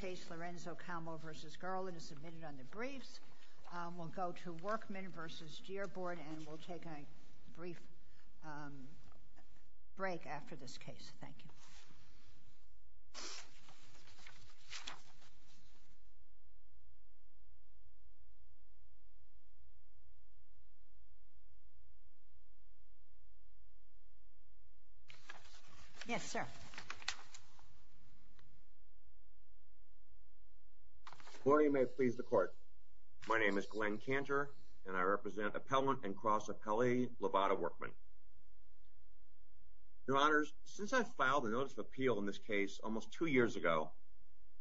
Case Lorenzo Calmo v. Garland is submitted on the briefs. We'll go to Workman v. Dearborn, and we'll take a brief break after this case. Thank you. Yes, sir. Your Honor, since I filed a notice of appeal in this case almost two years ago,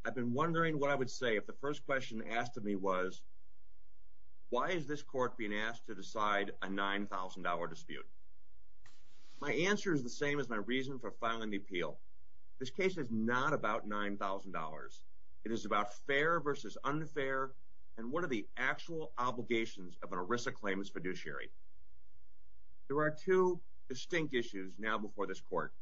I've been wondering what I would say if the first question asked of me was, why is this court being asked to decide a $9,000 dispute? My answer is the same as my reason for filing the appeal. This case is not about $9,000. It is about fair versus unfair and what are the actual obligations of an ERISA claimant's fiduciary. There are two distinct issues now before this court.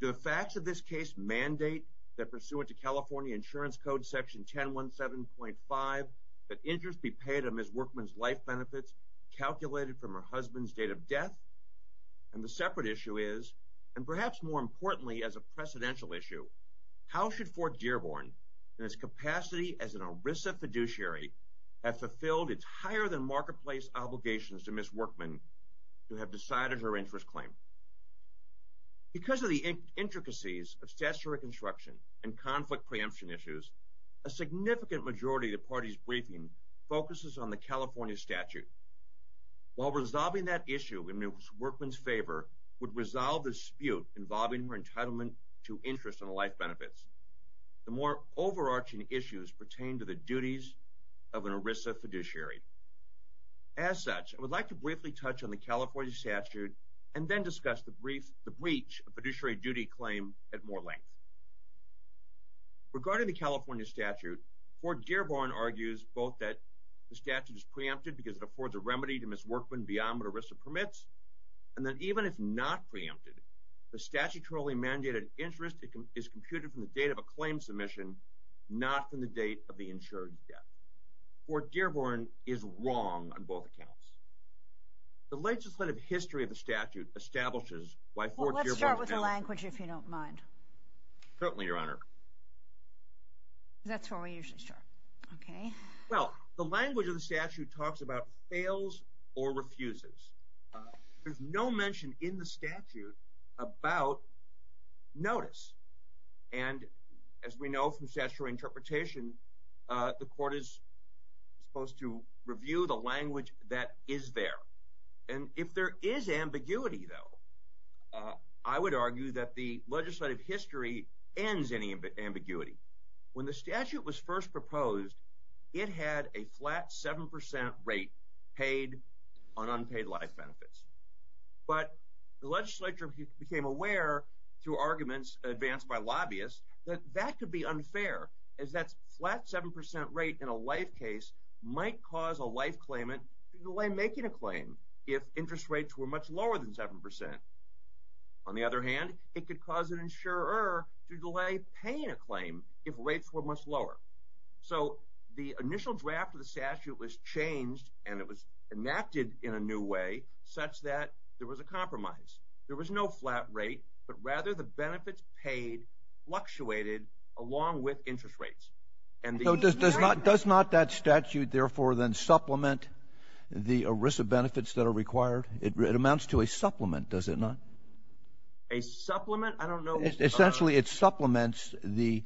Do the facts of this case mandate that pursuant to California Insurance Code Section 1017.5 that interest be paid on Ms. Workman's life benefits calculated from her husband's date of death? And the separate issue is, and perhaps more importantly as a precedential issue, how should Fort Dearborn in its capacity as an ERISA fiduciary have fulfilled its higher-than-marketplace obligations to Ms. Workman to have decided her interest claim? Because of the intricacies of statutory construction and conflict preemption issues, a significant majority of the party's briefing focuses on the California statute. While resolving that issue in Ms. Workman's favor would resolve the dispute involving her entitlement to interest on the life benefits, the more overarching issues pertain to the duties of an ERISA fiduciary. As such, I would like to briefly touch on the California statute and then discuss the breach of fiduciary duty claim at more length. Regarding the California statute, Fort Dearborn argues both that the statute is preempted because it affords a remedy to Ms. Workman beyond what ERISA permits, and that even if not preempted, the statutorily mandated interest is computed from the date of a claim submission, not from the date of the insured death. Fort Dearborn is wrong on both accounts. The legislative history of the statute establishes why Fort Dearborn is valid. Well, let's start with the language, if you don't mind. Certainly, Your Honor. That's where we usually start. Okay. Well, the language of the statute talks about fails or refuses. There's no mention in the statute about notice. And as we know from statutory interpretation, the court is supposed to review the language that is there. And if there is ambiguity, though, I would argue that the legislative history ends any ambiguity. When the statute was first proposed, it had a flat 7% rate paid on unpaid life benefits. But the legislature became aware, through arguments advanced by lobbyists, that that could be unfair, as that flat 7% rate in a life case might cause a life claimant to delay making a claim if interest rates were much lower than 7%. On the other hand, it could cause an insurer to delay paying a claim if rates were much lower. So, the initial draft of the statute was changed, and it was enacted in a new way, such that there was a compromise. There was no flat rate, but rather the benefits paid fluctuated along with interest rates. And the- Does not that statute, therefore, then supplement the ERISA benefits that are required? It amounts to a supplement, does it not? A supplement? I don't know- Essentially, it supplements the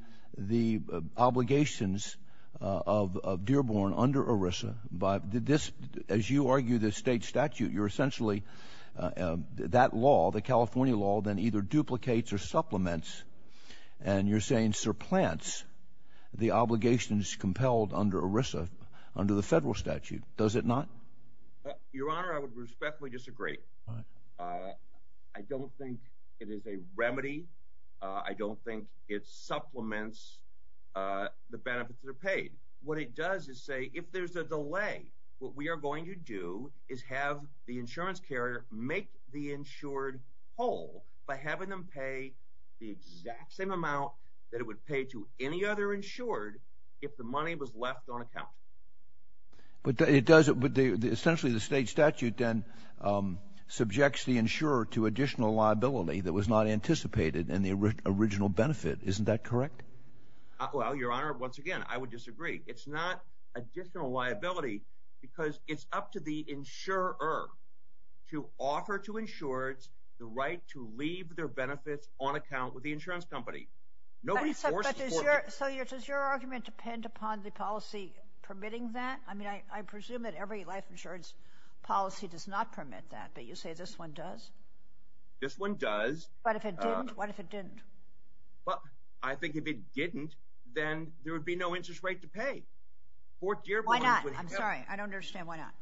obligations of Dearborn under ERISA. As you argue the state statute, you're essentially- that law, the California law, then either duplicates or supplements, and you're saying supplants the obligations compelled under ERISA under the federal statute, does it not? Your Honor, I would respectfully disagree. I don't think it is a remedy. I don't think it supplements the benefits that are paid. What it does is say, if there's a delay, what we are going to do is have the insurance carrier make the insured whole by having them pay the exact same amount that it would pay to any other insured if the money was left on account. But it does- essentially, the state statute then subjects the insurer to additional liability that was not anticipated in the original benefit, isn't that correct? Well, Your Honor, once again, I would disagree. It's not additional liability because it's up to the insurer to offer to insureds the right to leave their benefits on account with the insurance company. Nobody forces- But does your argument depend upon the policy permitting that? I mean, I presume that every life insurance policy does not permit that, but you say this one does? This one does. But if it didn't? What if it didn't? Well, I think if it didn't, then there would be no interest rate to pay. Fort Dearborn- Why not? I'm sorry. I don't understand. Why not?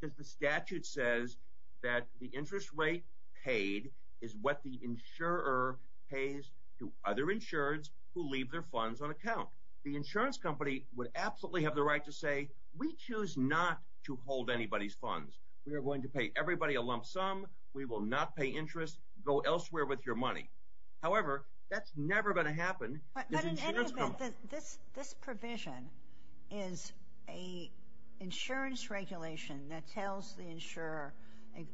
Because the statute says that the interest rate paid is what the insurer pays to other insureds who leave their funds on account. The insurance company would absolutely have the right to say, we choose not to hold anybody's funds. We are going to pay everybody a lump sum. We will not pay interest. Go elsewhere with your money. However, that's never going to happen. But in any event, this provision is an insurance regulation that tells the insurer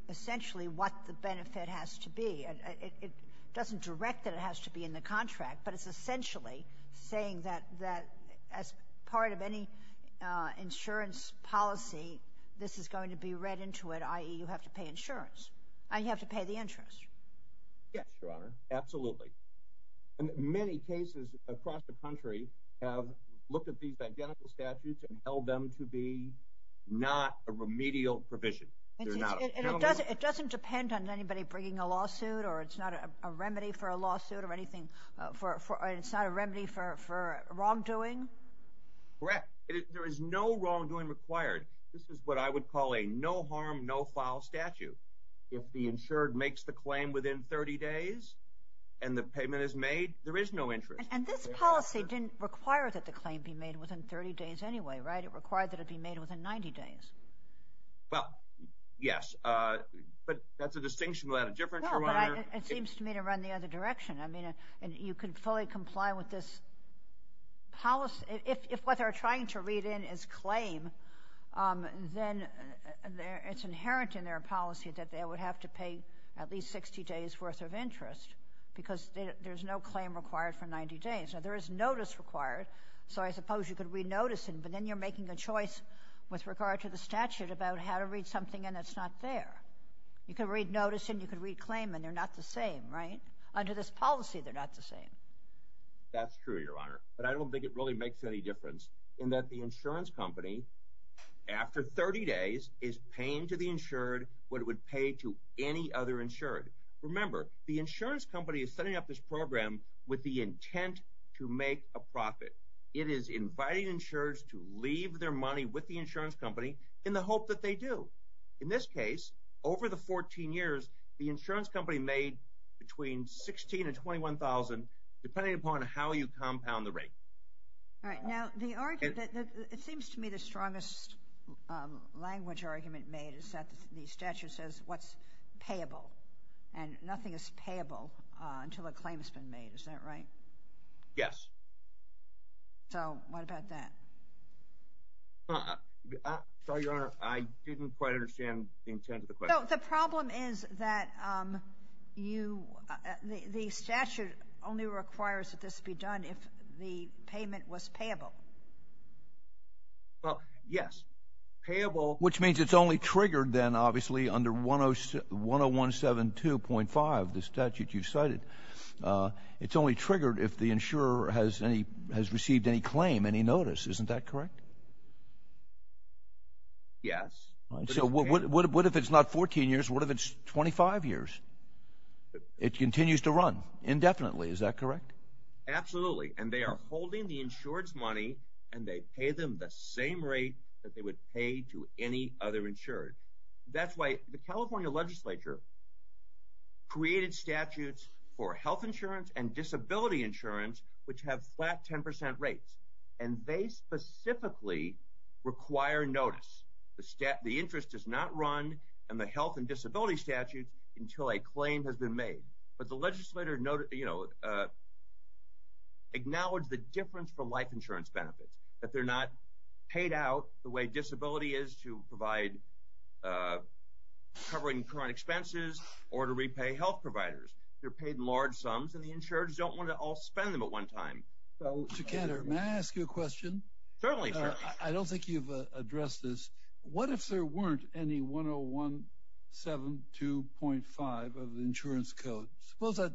essentially what the benefit has to be. It doesn't direct that it has to be in the contract, but it's essentially saying that as part of any insurance policy, this is going to be read into it, i.e., you have to pay insurance. You have to pay the interest. Yes, Your Honor. Absolutely. And many cases across the country have looked at these identical statutes and held them to be not a remedial provision. It doesn't depend on anybody bringing a lawsuit or it's not a remedy for a lawsuit or anything for, it's not a remedy for wrongdoing? Correct. There is no wrongdoing required. This is what I would call a no harm, no foul statute. If the insured makes the claim within 30 days and the payment is made, there is no interest. And this policy didn't require that the claim be made within 30 days anyway, right? It required that it be made within 90 days. Well, yes, but that's a distinction without a difference, Your Honor. Yeah, but it seems to me to run the other direction. I mean, you can fully comply with this policy. If what they're trying to read in is claim, then it's inherent in their policy that they would have to pay at least 60 days worth of interest because there's no claim required for 90 days. Now, there is notice required, so I suppose you could re-notice it, but then you're making a choice with regard to the statute about how to read something and it's not there. You could re-notice and you could re-claim and they're not the same, right? Under this policy, they're not the same. That's true, Your Honor, but I don't think it really makes any difference in that the insurance company, after 30 days, is paying to the insured what it would pay to any other insured. Remember, the insurance company is setting up this program with the intent to make a profit. It is inviting insureds to leave their money with the insurance company in the hope that they do. In this case, over the 14 years, the insurance company made between $16,000 and $21,000 depending upon how you compound the rate. All right. Now, it seems to me the strongest language argument made is that the statute says what's payable and nothing is payable until a claim has been made. Is that right? Yes. So, what about that? Sorry, Your Honor. I didn't quite understand the intent of the question. So, the problem is that the statute only requires that this be done if the payment was payable. Well, yes. Payable, which means it's only triggered then, obviously, under 10172.5, the statute you cited. It's only triggered if the insurer has received any claim, any notice. Isn't that correct? Yes. So, what if it's not 14 years? What if it's 25 years? It continues to run indefinitely. Is that correct? Absolutely. And they are holding the insured's money, and they pay them the same rate that they would pay to any other insured. That's why the California legislature created statutes for health insurance and disability insurance, which have flat 10 percent rates. And they specifically require notice. The interest is not run in the health and disability statute until a claim has been made. But the legislator acknowledged the difference for life insurance benefits, that they're not paid out the way disability is to provide covering current expenses or to repay health providers. They're paid in large sums, and the insureds don't want to all spend them at one time. So, Mr. Cantor, may I ask you a question? Certainly. I don't think you've addressed this. What if there weren't any 10172.5 of the insurance code? Suppose that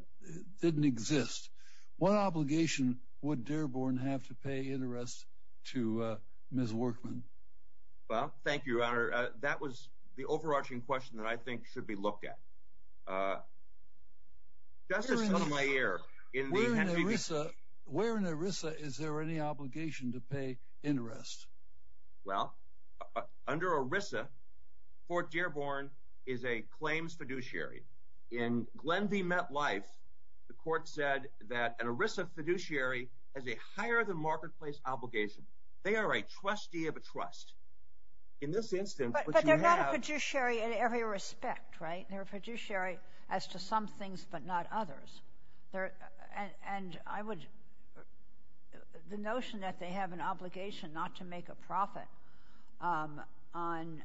didn't exist. What obligation would Dearborn have to pay interest to Ms. Workman? Well, thank you, Your Honor. That was the overarching question that I think should be looked at. Where in ERISA is there any obligation to pay interest? Well, under ERISA, Fort Dearborn is a claims fiduciary. In Glenview Met Life, the court said that an ERISA fiduciary has a higher-than-marketplace obligation. They are a trustee of a trust. But they're not a fiduciary in every respect, right? They're a fiduciary as to some things but not others. And the notion that they have an obligation not to make a profit on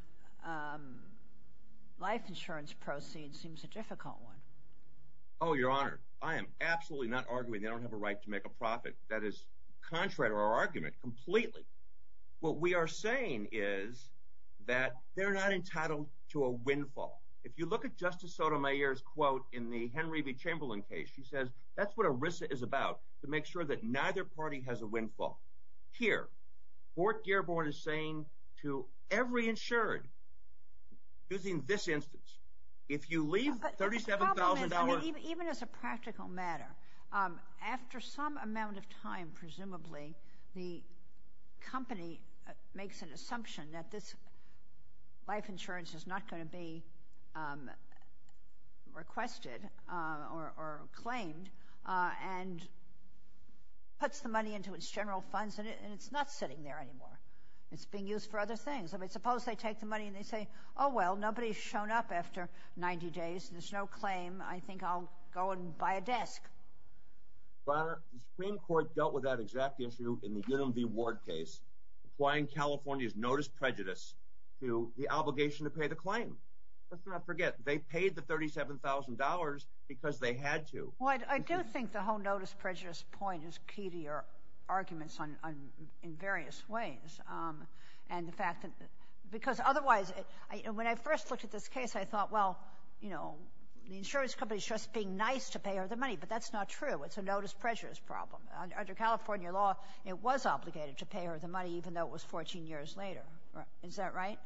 life insurance proceeds seems a difficult one. Oh, Your Honor, I am absolutely not arguing they don't have a right to make a profit. That is contrary to our argument completely. What we are saying is that they're not entitled to a windfall. If you look at Justice Sotomayor's quote in the Henry v. Chamberlain case, she says that's what ERISA is about, to make sure that neither party has a windfall. Here, Fort Dearborn is saying to every insured, using this instance, if you leave $37,000 Even as a practical matter, after some amount of time, presumably, the company makes an request or claimed and puts the money into its general funds and it's not sitting there anymore. It's being used for other things. Suppose they take the money and they say, oh, well, nobody's shown up after 90 days. There's no claim. I think I'll go and buy a desk. Your Honor, the Supreme Court dealt with that exact issue in the Unum v. Ward case, applying California's notice prejudice to the obligation to pay the claim. Let's not forget, they paid the $37,000 because they had to. Well, I do think the whole notice prejudice point is key to your arguments in various ways. Because otherwise, when I first looked at this case, I thought, well, the insurance company is just being nice to pay her the money, but that's not true. It's a notice prejudice problem. Under California law, it was obligated to pay her the money, even though it was 14 years later. Is that right?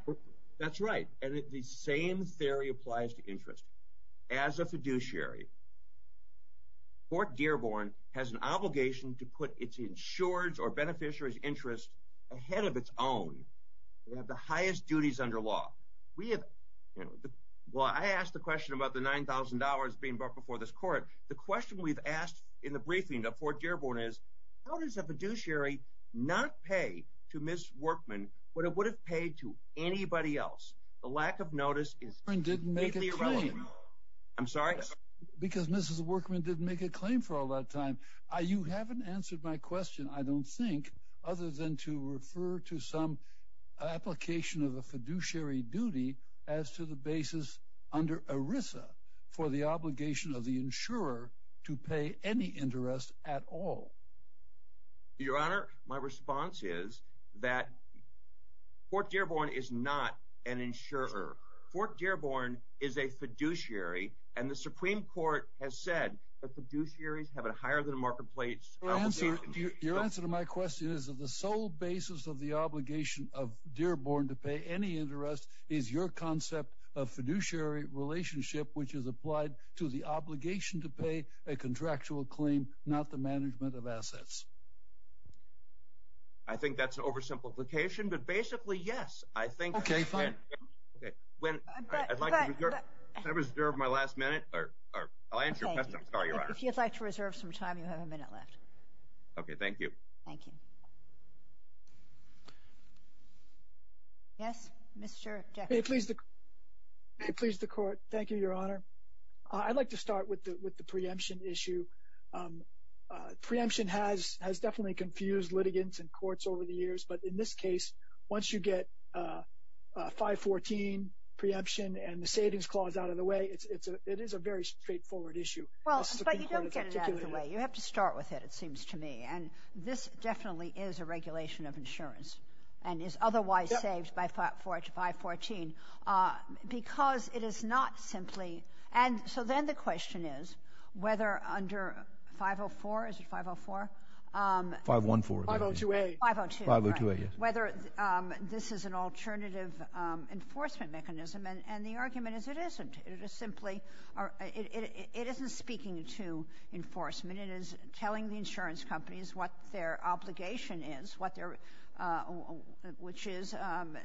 That's right. And the same theory applies to interest. As a fiduciary, Fort Dearborn has an obligation to put its insurance or beneficiaries' interest ahead of its own. They have the highest duties under law. We have – well, I asked the question about the $9,000 being brought before this court. The question we've asked in the briefing of Fort Dearborn is, how does a fiduciary not pay to Ms. Workman what it would have paid to anybody else? The lack of notice is – Workman didn't make a claim. I'm sorry? Because Mrs. Workman didn't make a claim for all that time. You haven't answered my question, I don't think, other than to refer to some application of a fiduciary duty as to the basis under ERISA for the obligation of the insurer to pay any interest at all. Your Honor, my response is that Fort Dearborn is not an insurer. Fort Dearborn is a fiduciary, and the Supreme Court has said that fiduciaries have a higher-than-marketplace obligation. Your answer to my question is that the sole basis of the obligation of Dearborn to pay any interest is your concept of fiduciary relationship, which is applied to the obligation to pay a contractual claim, not the management of assets. I think that's an oversimplification, but basically, yes. I think – Okay, fine. When – I'd like to reserve my last minute – or I'll answer your question. I'm sorry, Your Honor. If you'd like to reserve some time, you have a minute left. Okay, thank you. Thank you. Yes, Mr. Jackson. May it please the Court. Thank you, Your Honor. I'd like to start with the preemption issue. Preemption has definitely confused litigants and courts over the years, but in this case, once you get 514, preemption, and the savings clause out of the way, it is a very straightforward issue. Well, but you don't get it out of the way. You have to start with it, it seems to me, and this definitely is a regulation of insurance and is otherwise saved by 514 because it is not simply – and so then the question is whether under 504 – is it 504? 514. 502A. 502A, yes. Whether this is an alternative enforcement mechanism, and the argument is it isn't. It is simply – it isn't speaking to enforcement. It is telling the insurance companies what their obligation is, which is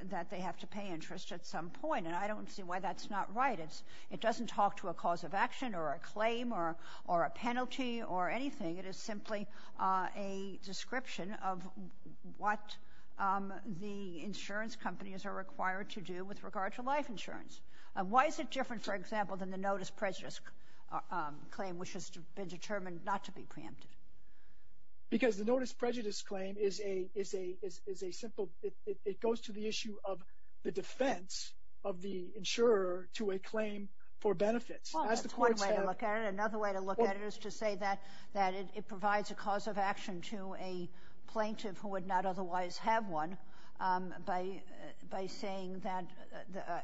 that they have to pay interest at some point, and I don't see why that's not right. It doesn't talk to a cause of action or a claim or a penalty or anything. It is simply a description of what the insurance companies are required to do with regard to life insurance. Why is it different, for example, than the notice prejudice claim, which has been determined not to be preemptive? Because the notice prejudice claim is a simple – it goes to the issue of the defense of the insurer to a claim for benefits. Well, that's one way to look at it. Another way to look at it is to say that it provides a cause of action to a plaintiff who would not otherwise have one by saying that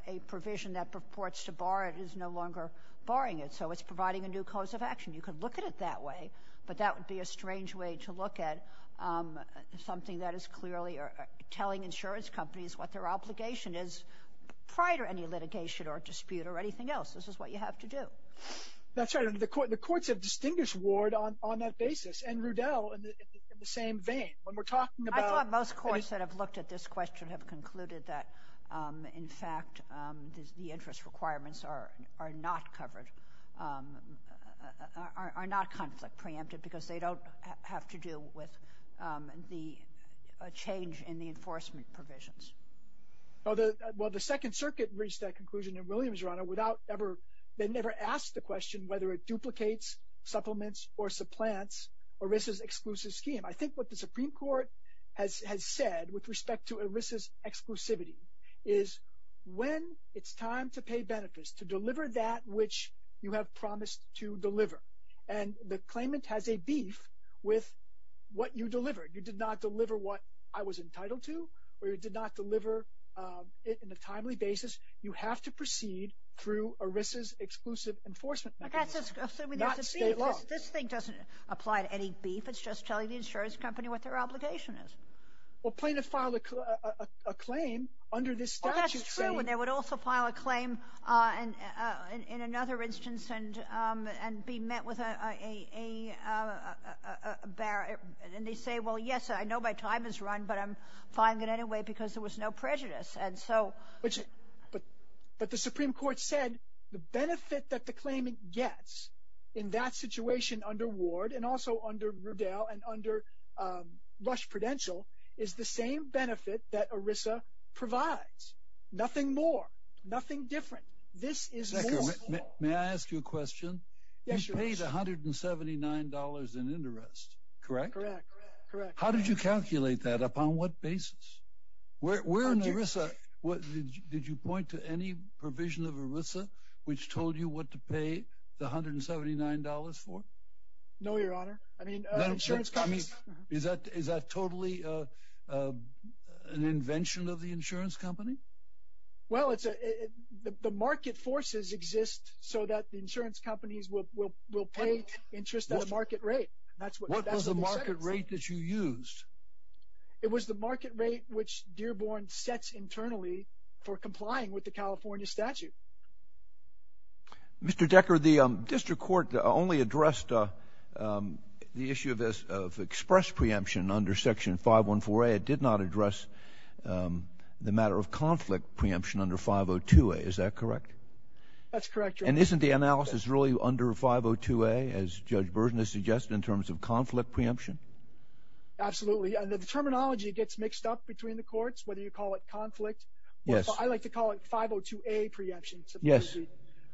a provision that purports to bar it is no longer barring it. So it's providing a new cause of action. You could look at it that way, but that would be a strange way to look at something that is clearly telling insurance companies what their obligation is prior to any litigation or dispute or anything else. This is what you have to do. That's right, and the courts have distinguished Ward on that basis and Rudell in the same vein. When we're talking about – I thought most courts that have looked at this question have concluded that, in fact, the interest requirements are not covered – are not conflict preemptive because they don't have to do with the change in the enforcement provisions. Well, the Second Circuit reached that conclusion in Williams, Your Honor, without ever – they never asked the question whether it duplicates, supplements, or supplants ERISA's exclusive scheme. I think what the Supreme Court has said with respect to ERISA's exclusivity is when it's time to pay benefits, to deliver that which you have promised to deliver, and the claimant has a beef with what you delivered. You did not deliver what I was entitled to or you did not deliver it in a timely basis. You have to proceed through ERISA's exclusive enforcement mechanism, not state law. This thing doesn't apply to any beef. It's just telling the insurance company what their obligation is. Well, plain to file a claim under this statute saying – That's true, and they would also file a claim in another instance and be met with a – and they say, well, yes, I know my time is run, but I'm filing it anyway because there was no prejudice, and so – But the Supreme Court said the benefit that the claimant gets in that situation under Ward and also under Rudell and under Rush Prudential is the same benefit that ERISA provides. Nothing more, nothing different. This is more – May I ask you a question? Yes, Your Honor. You paid $179 in interest, correct? Correct. How did you calculate that? Upon what basis? Where in ERISA – Did you point to any provision of ERISA which told you what to pay the $179 for? No, Your Honor. I mean, insurance companies – Is that totally an invention of the insurance company? Well, the market forces exist so that the insurance companies will pay interest at a market rate. That's what they say. What was the market rate that you used? It was the market rate which Dearborn sets internally for complying with the California statute. Mr. Decker, the district court only addressed the issue of express preemption under Section 514A. It did not address the matter of conflict preemption under 502A. Is that correct? That's correct, Your Honor. And isn't the analysis really under 502A, as Judge Burson has suggested, in terms of conflict preemption? Absolutely. And the terminology gets mixed up between the courts, whether you call it conflict. Yes. I like to call it 502A preemption. Yes.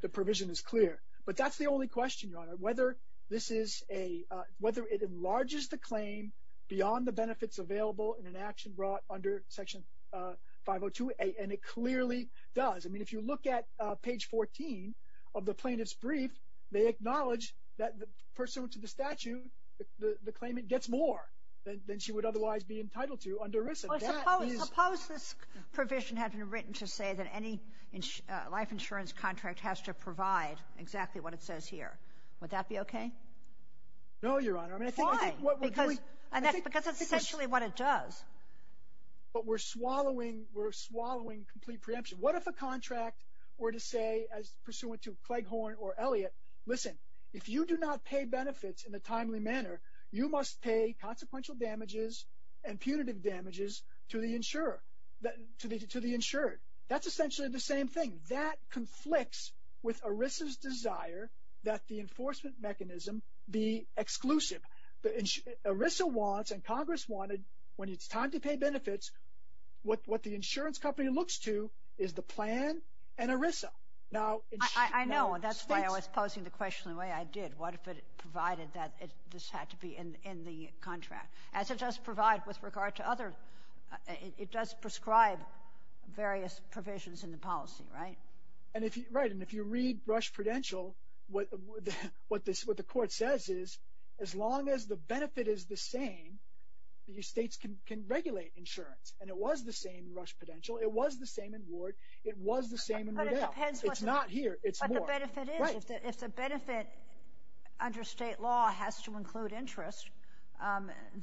The provision is clear. But that's the only question, Your Honor, whether this is a – whether it enlarges the claim beyond the benefits available in an action brought under Section 502A, and it clearly does. I mean, if you look at page 14 of the plaintiff's brief, they acknowledge that pursuant to the statute, the claimant gets more than she would otherwise be entitled to under risk of death. Suppose this provision had been written to say that any life insurance contract has to provide exactly what it says here. Would that be okay? No, Your Honor. Why? Because that's essentially what it does. But we're swallowing complete preemption. What if a contract were to say, as pursuant to Cleghorn or Elliott, listen, if you do not pay benefits in a timely manner, you must pay consequential damages and punitive damages to the insured. That's essentially the same thing. That conflicts with ERISA's desire that the enforcement mechanism be exclusive. ERISA wants and Congress wanted, when it's time to pay benefits, what the insurance company looks to is the plan and ERISA. I know. That's why I was posing the question the way I did. What if it provided that this had to be in the contract? As it does provide with regard to other, it does prescribe various provisions in the policy, right? Right. And if you read Rush Prudential, what the court says is, as long as the benefit is the same, the states can regulate insurance. And it was the same in Rush Prudential. It was the same in Ward. It was the same in Rodale. It's not here. It's more. But the benefit is, if the benefit under state law has to include interest,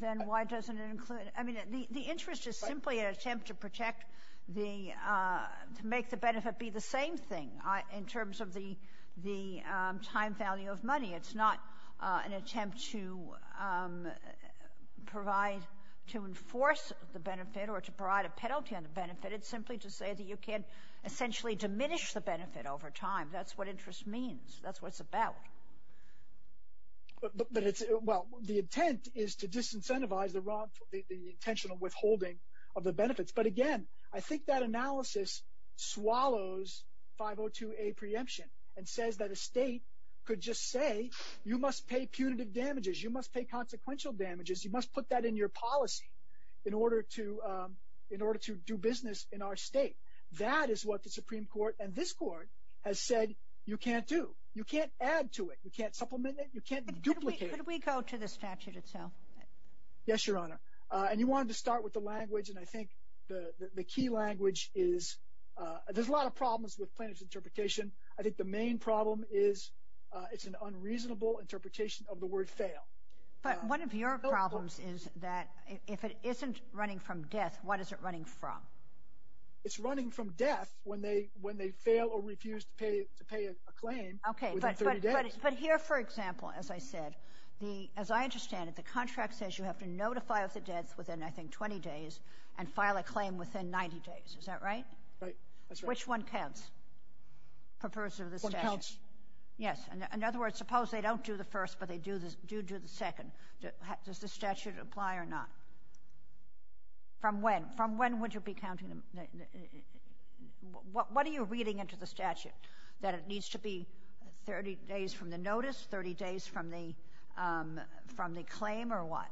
then why doesn't it include it? I mean, the interest is simply an attempt to protect the, to make the benefit be the same thing in terms of the time value of money. It's not an attempt to provide, to enforce the benefit or to provide a penalty on the benefit. It's simply to say that you can't essentially diminish the benefit over time. That's what interest means. That's what it's about. Well, the intent is to disincentivize the intentional withholding of the benefits. But again, I think that analysis swallows 502A preemption and says that a state could just say you must pay punitive damages, you must pay consequential damages, you must put that in your policy in order to do business in our state. That is what the Supreme Court and this Court has said you can't do. You can't add to it. You can't supplement it. You can't duplicate it. Could we go to the statute itself? Yes, Your Honor. And you wanted to start with the language, and I think the key language is, there's a lot of problems with plaintiff's interpretation. I think the main problem is it's an unreasonable interpretation of the word fail. But one of your problems is that if it isn't running from death, what is it running from? It's running from death when they fail or refuse to pay a claim within 30 days. Okay, but here, for example, as I said, as I understand it, the contract says you have to notify of the death within, I think, 20 days and file a claim within 90 days. Is that right? Right, that's right. Which one counts? The first or the second? One counts. Yes. In other words, suppose they don't do the first, but they do do the second. Does the statute apply or not? From when? From when would you be counting them? What are you reading into the statute, that it needs to be 30 days from the notice, 30 days from the claim, or what?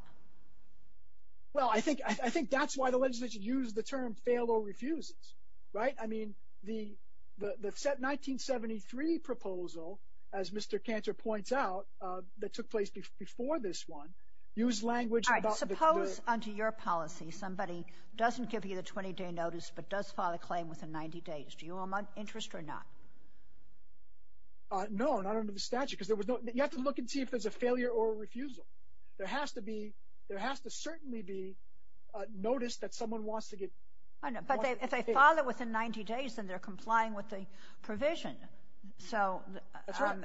Well, I think that's why the legislation used the term fail or refuses, right? I mean, the 1973 proposal, as Mr. Cantor points out, that took place before this one, used language about the – All right, suppose under your policy somebody doesn't give you the 20-day notice but does file a claim within 90 days. Do you owe them an interest or not? No, not under the statute because there was no – you have to look and see if there's a failure or a refusal. There has to be – there has to certainly be notice that someone wants to get – But if they file it within 90 days, then they're complying with the provision. So – That's right.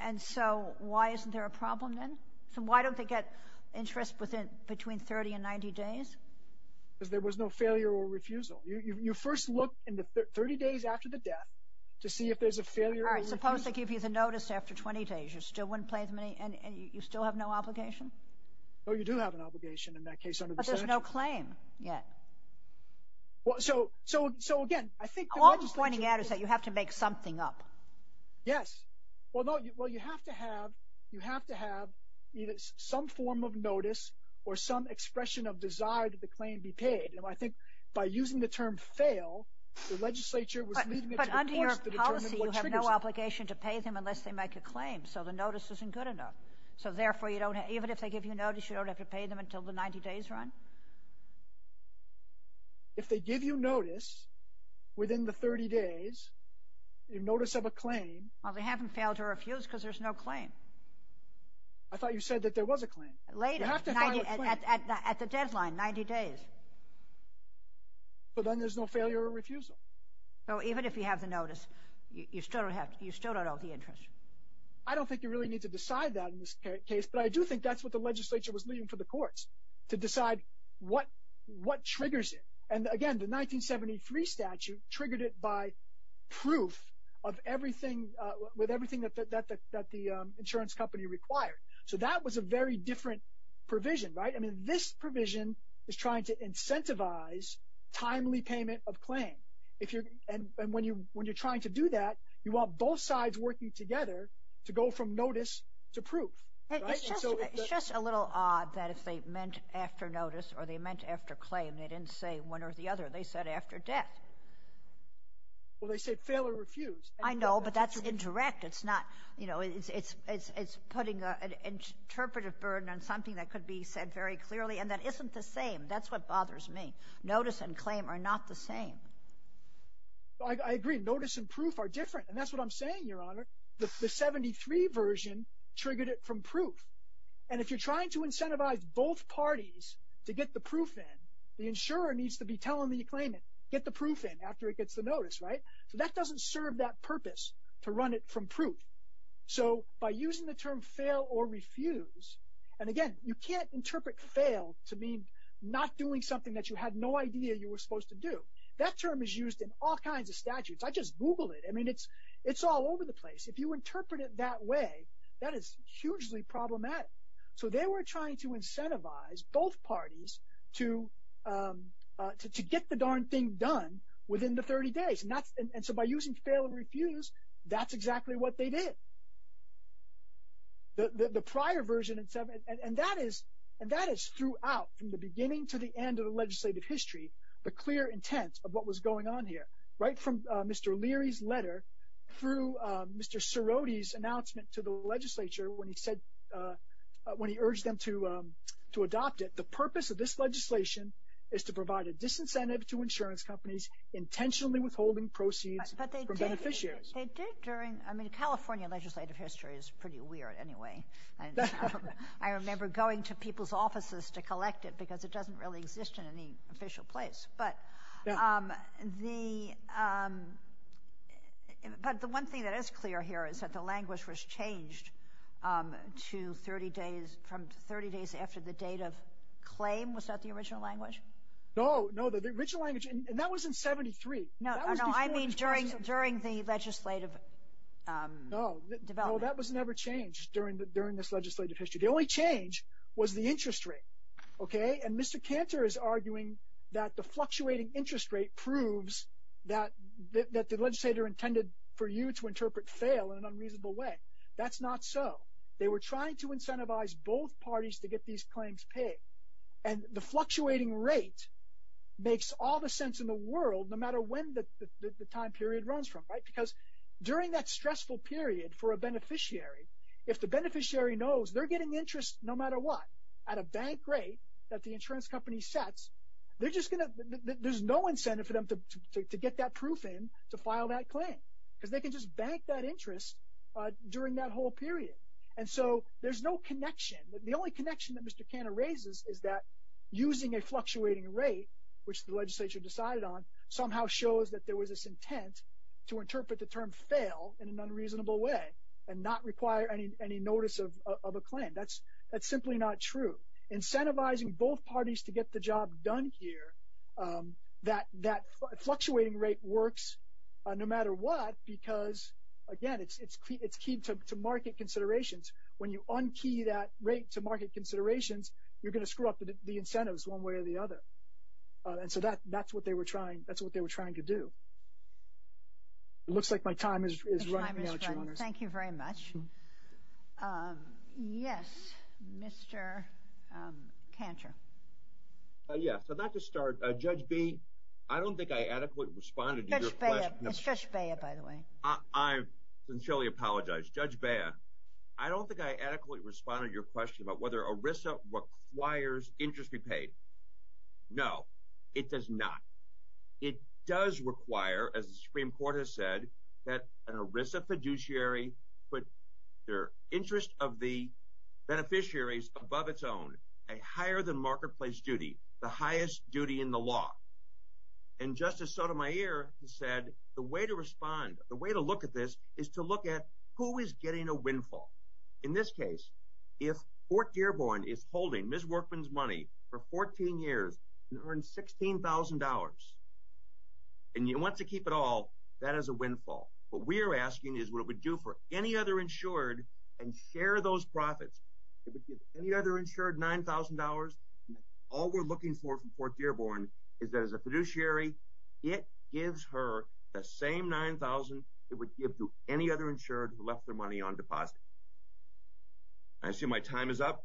And so why isn't there a problem then? So why don't they get interest within – between 30 and 90 days? Because there was no failure or refusal. You first look in the 30 days after the death to see if there's a failure or refusal. All right, suppose they give you the notice after 20 days. You still wouldn't pay as many – and you still have no obligation? Oh, you do have an obligation in that case under the statute. But there's no claim yet. So, again, I think the legislature – All I'm pointing out is that you have to make something up. Yes. Well, no, you have to have – you have to have either some form of notice or some expression of desire that the claim be paid. I think by using the term fail, the legislature was leading it to – But under your policy, you have no obligation to pay them unless they make a claim, so the notice isn't good enough. So, therefore, you don't – even if they give you a notice, you don't have to pay them until the 90 days run? If they give you notice within the 30 days, a notice of a claim – Well, they haven't failed to refuse because there's no claim. I thought you said that there was a claim. Later. You have to file a claim. At the deadline, 90 days. But then there's no failure or refusal. So even if you have the notice, you still don't owe the interest. I don't think you really need to decide that in this case, but I do think that's what the legislature was leaving for the courts, to decide what triggers it. And, again, the 1973 statute triggered it by proof of everything – with everything that the insurance company required. So that was a very different provision, right? I mean, this provision is trying to incentivize timely payment of claim. And when you're trying to do that, you want both sides working together to go from notice to proof, right? It's just a little odd that if they meant after notice or they meant after claim, they didn't say one or the other. They said after death. Well, they said fail or refuse. I know, but that's indirect. It's putting an interpretive burden on something that could be said very clearly, and that isn't the same. That's what bothers me. Notice and claim are not the same. I agree. Notice and proof are different, and that's what I'm saying, Your Honor. The 1973 version triggered it from proof. And if you're trying to incentivize both parties to get the proof in, the insurer needs to be telling the claimant, get the proof in after it gets the notice, right? So that doesn't serve that purpose to run it from proof. So by using the term fail or refuse – and, again, you can't interpret fail to mean not doing something that you had no idea you were supposed to do. That term is used in all kinds of statutes. I just Googled it. I mean, it's all over the place. If you interpret it that way, that is hugely problematic. So they were trying to incentivize both parties to get the darn thing done within the 30 days. And so by using fail or refuse, that's exactly what they did. The prior version – and that is throughout, from the beginning to the end of the legislative history, the clear intent of what was going on here. Right from Mr. Leary's letter through Mr. Cerotti's announcement to the legislature when he urged them to adopt it, the purpose of this legislation is to provide a disincentive to insurance companies intentionally withholding proceeds from beneficiaries. But they did during – I mean, California legislative history is pretty weird anyway. I remember going to people's offices to collect it because it doesn't really exist in any official place. But the one thing that is clear here is that the language was changed to 30 days – from 30 days after the date of claim. Was that the original language? No, no, the original language – and that was in 73. No, no, I mean during the legislative development. No, that was never changed during this legislative history. The only change was the interest rate, okay? And Mr. Cantor is arguing that the fluctuating interest rate proves that the legislator intended for you to interpret fail in an unreasonable way. That's not so. They were trying to incentivize both parties to get these claims paid. And the fluctuating rate makes all the sense in the world no matter when the time period runs from, right? Because during that stressful period for a beneficiary, if the beneficiary knows they're getting interest no matter what at a bank rate that the insurance company sets, there's no incentive for them to get that proof in to file that claim because they can just bank that interest during that whole period. And so there's no connection. The only connection that Mr. Cantor raises is that using a fluctuating rate, which the legislature decided on, somehow shows that there was this intent to interpret the term fail in an unreasonable way and not require any notice of a claim. That's simply not true. Incentivizing both parties to get the job done here, that fluctuating rate works no matter what because, again, it's key to market considerations. When you un-key that rate to market considerations, you're going to screw up the incentives one way or the other. And so that's what they were trying to do. It looks like my time is running out, Your Honors. Thank you very much. Yes, Mr. Cantor. Yes. So not to start, Judge B, I don't think I adequately responded to your question. It's Judge Beah, by the way. I sincerely apologize. Judge Beah, I don't think I adequately responded to your question about whether ERISA requires interest be paid. No, it does not. It does require, as the Supreme Court has said, that an ERISA fiduciary put their interest of the beneficiaries above its own, a higher-than-marketplace duty, the highest duty in the law. And Justice Sotomayor has said the way to respond, the way to look at this is to look at who is getting a windfall. In this case, if Fort Dearborn is holding Ms. Workman's money for 14 years and earns $16,000 and wants to keep it all, that is a windfall. What we are asking is what it would do for any other insured and share those profits. It would give any other insured $9,000. All we're looking for from Fort Dearborn is that as a fiduciary, it gives her the same $9,000 it would give to any other insured who left their money on deposit. I assume my time is up.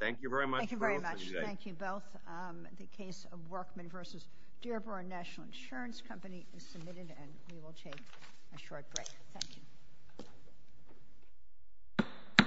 Thank you very much for listening today. Thank you both. The case of Workman v. Dearborn National Insurance Company is submitted, and we will take a short break. Thank you.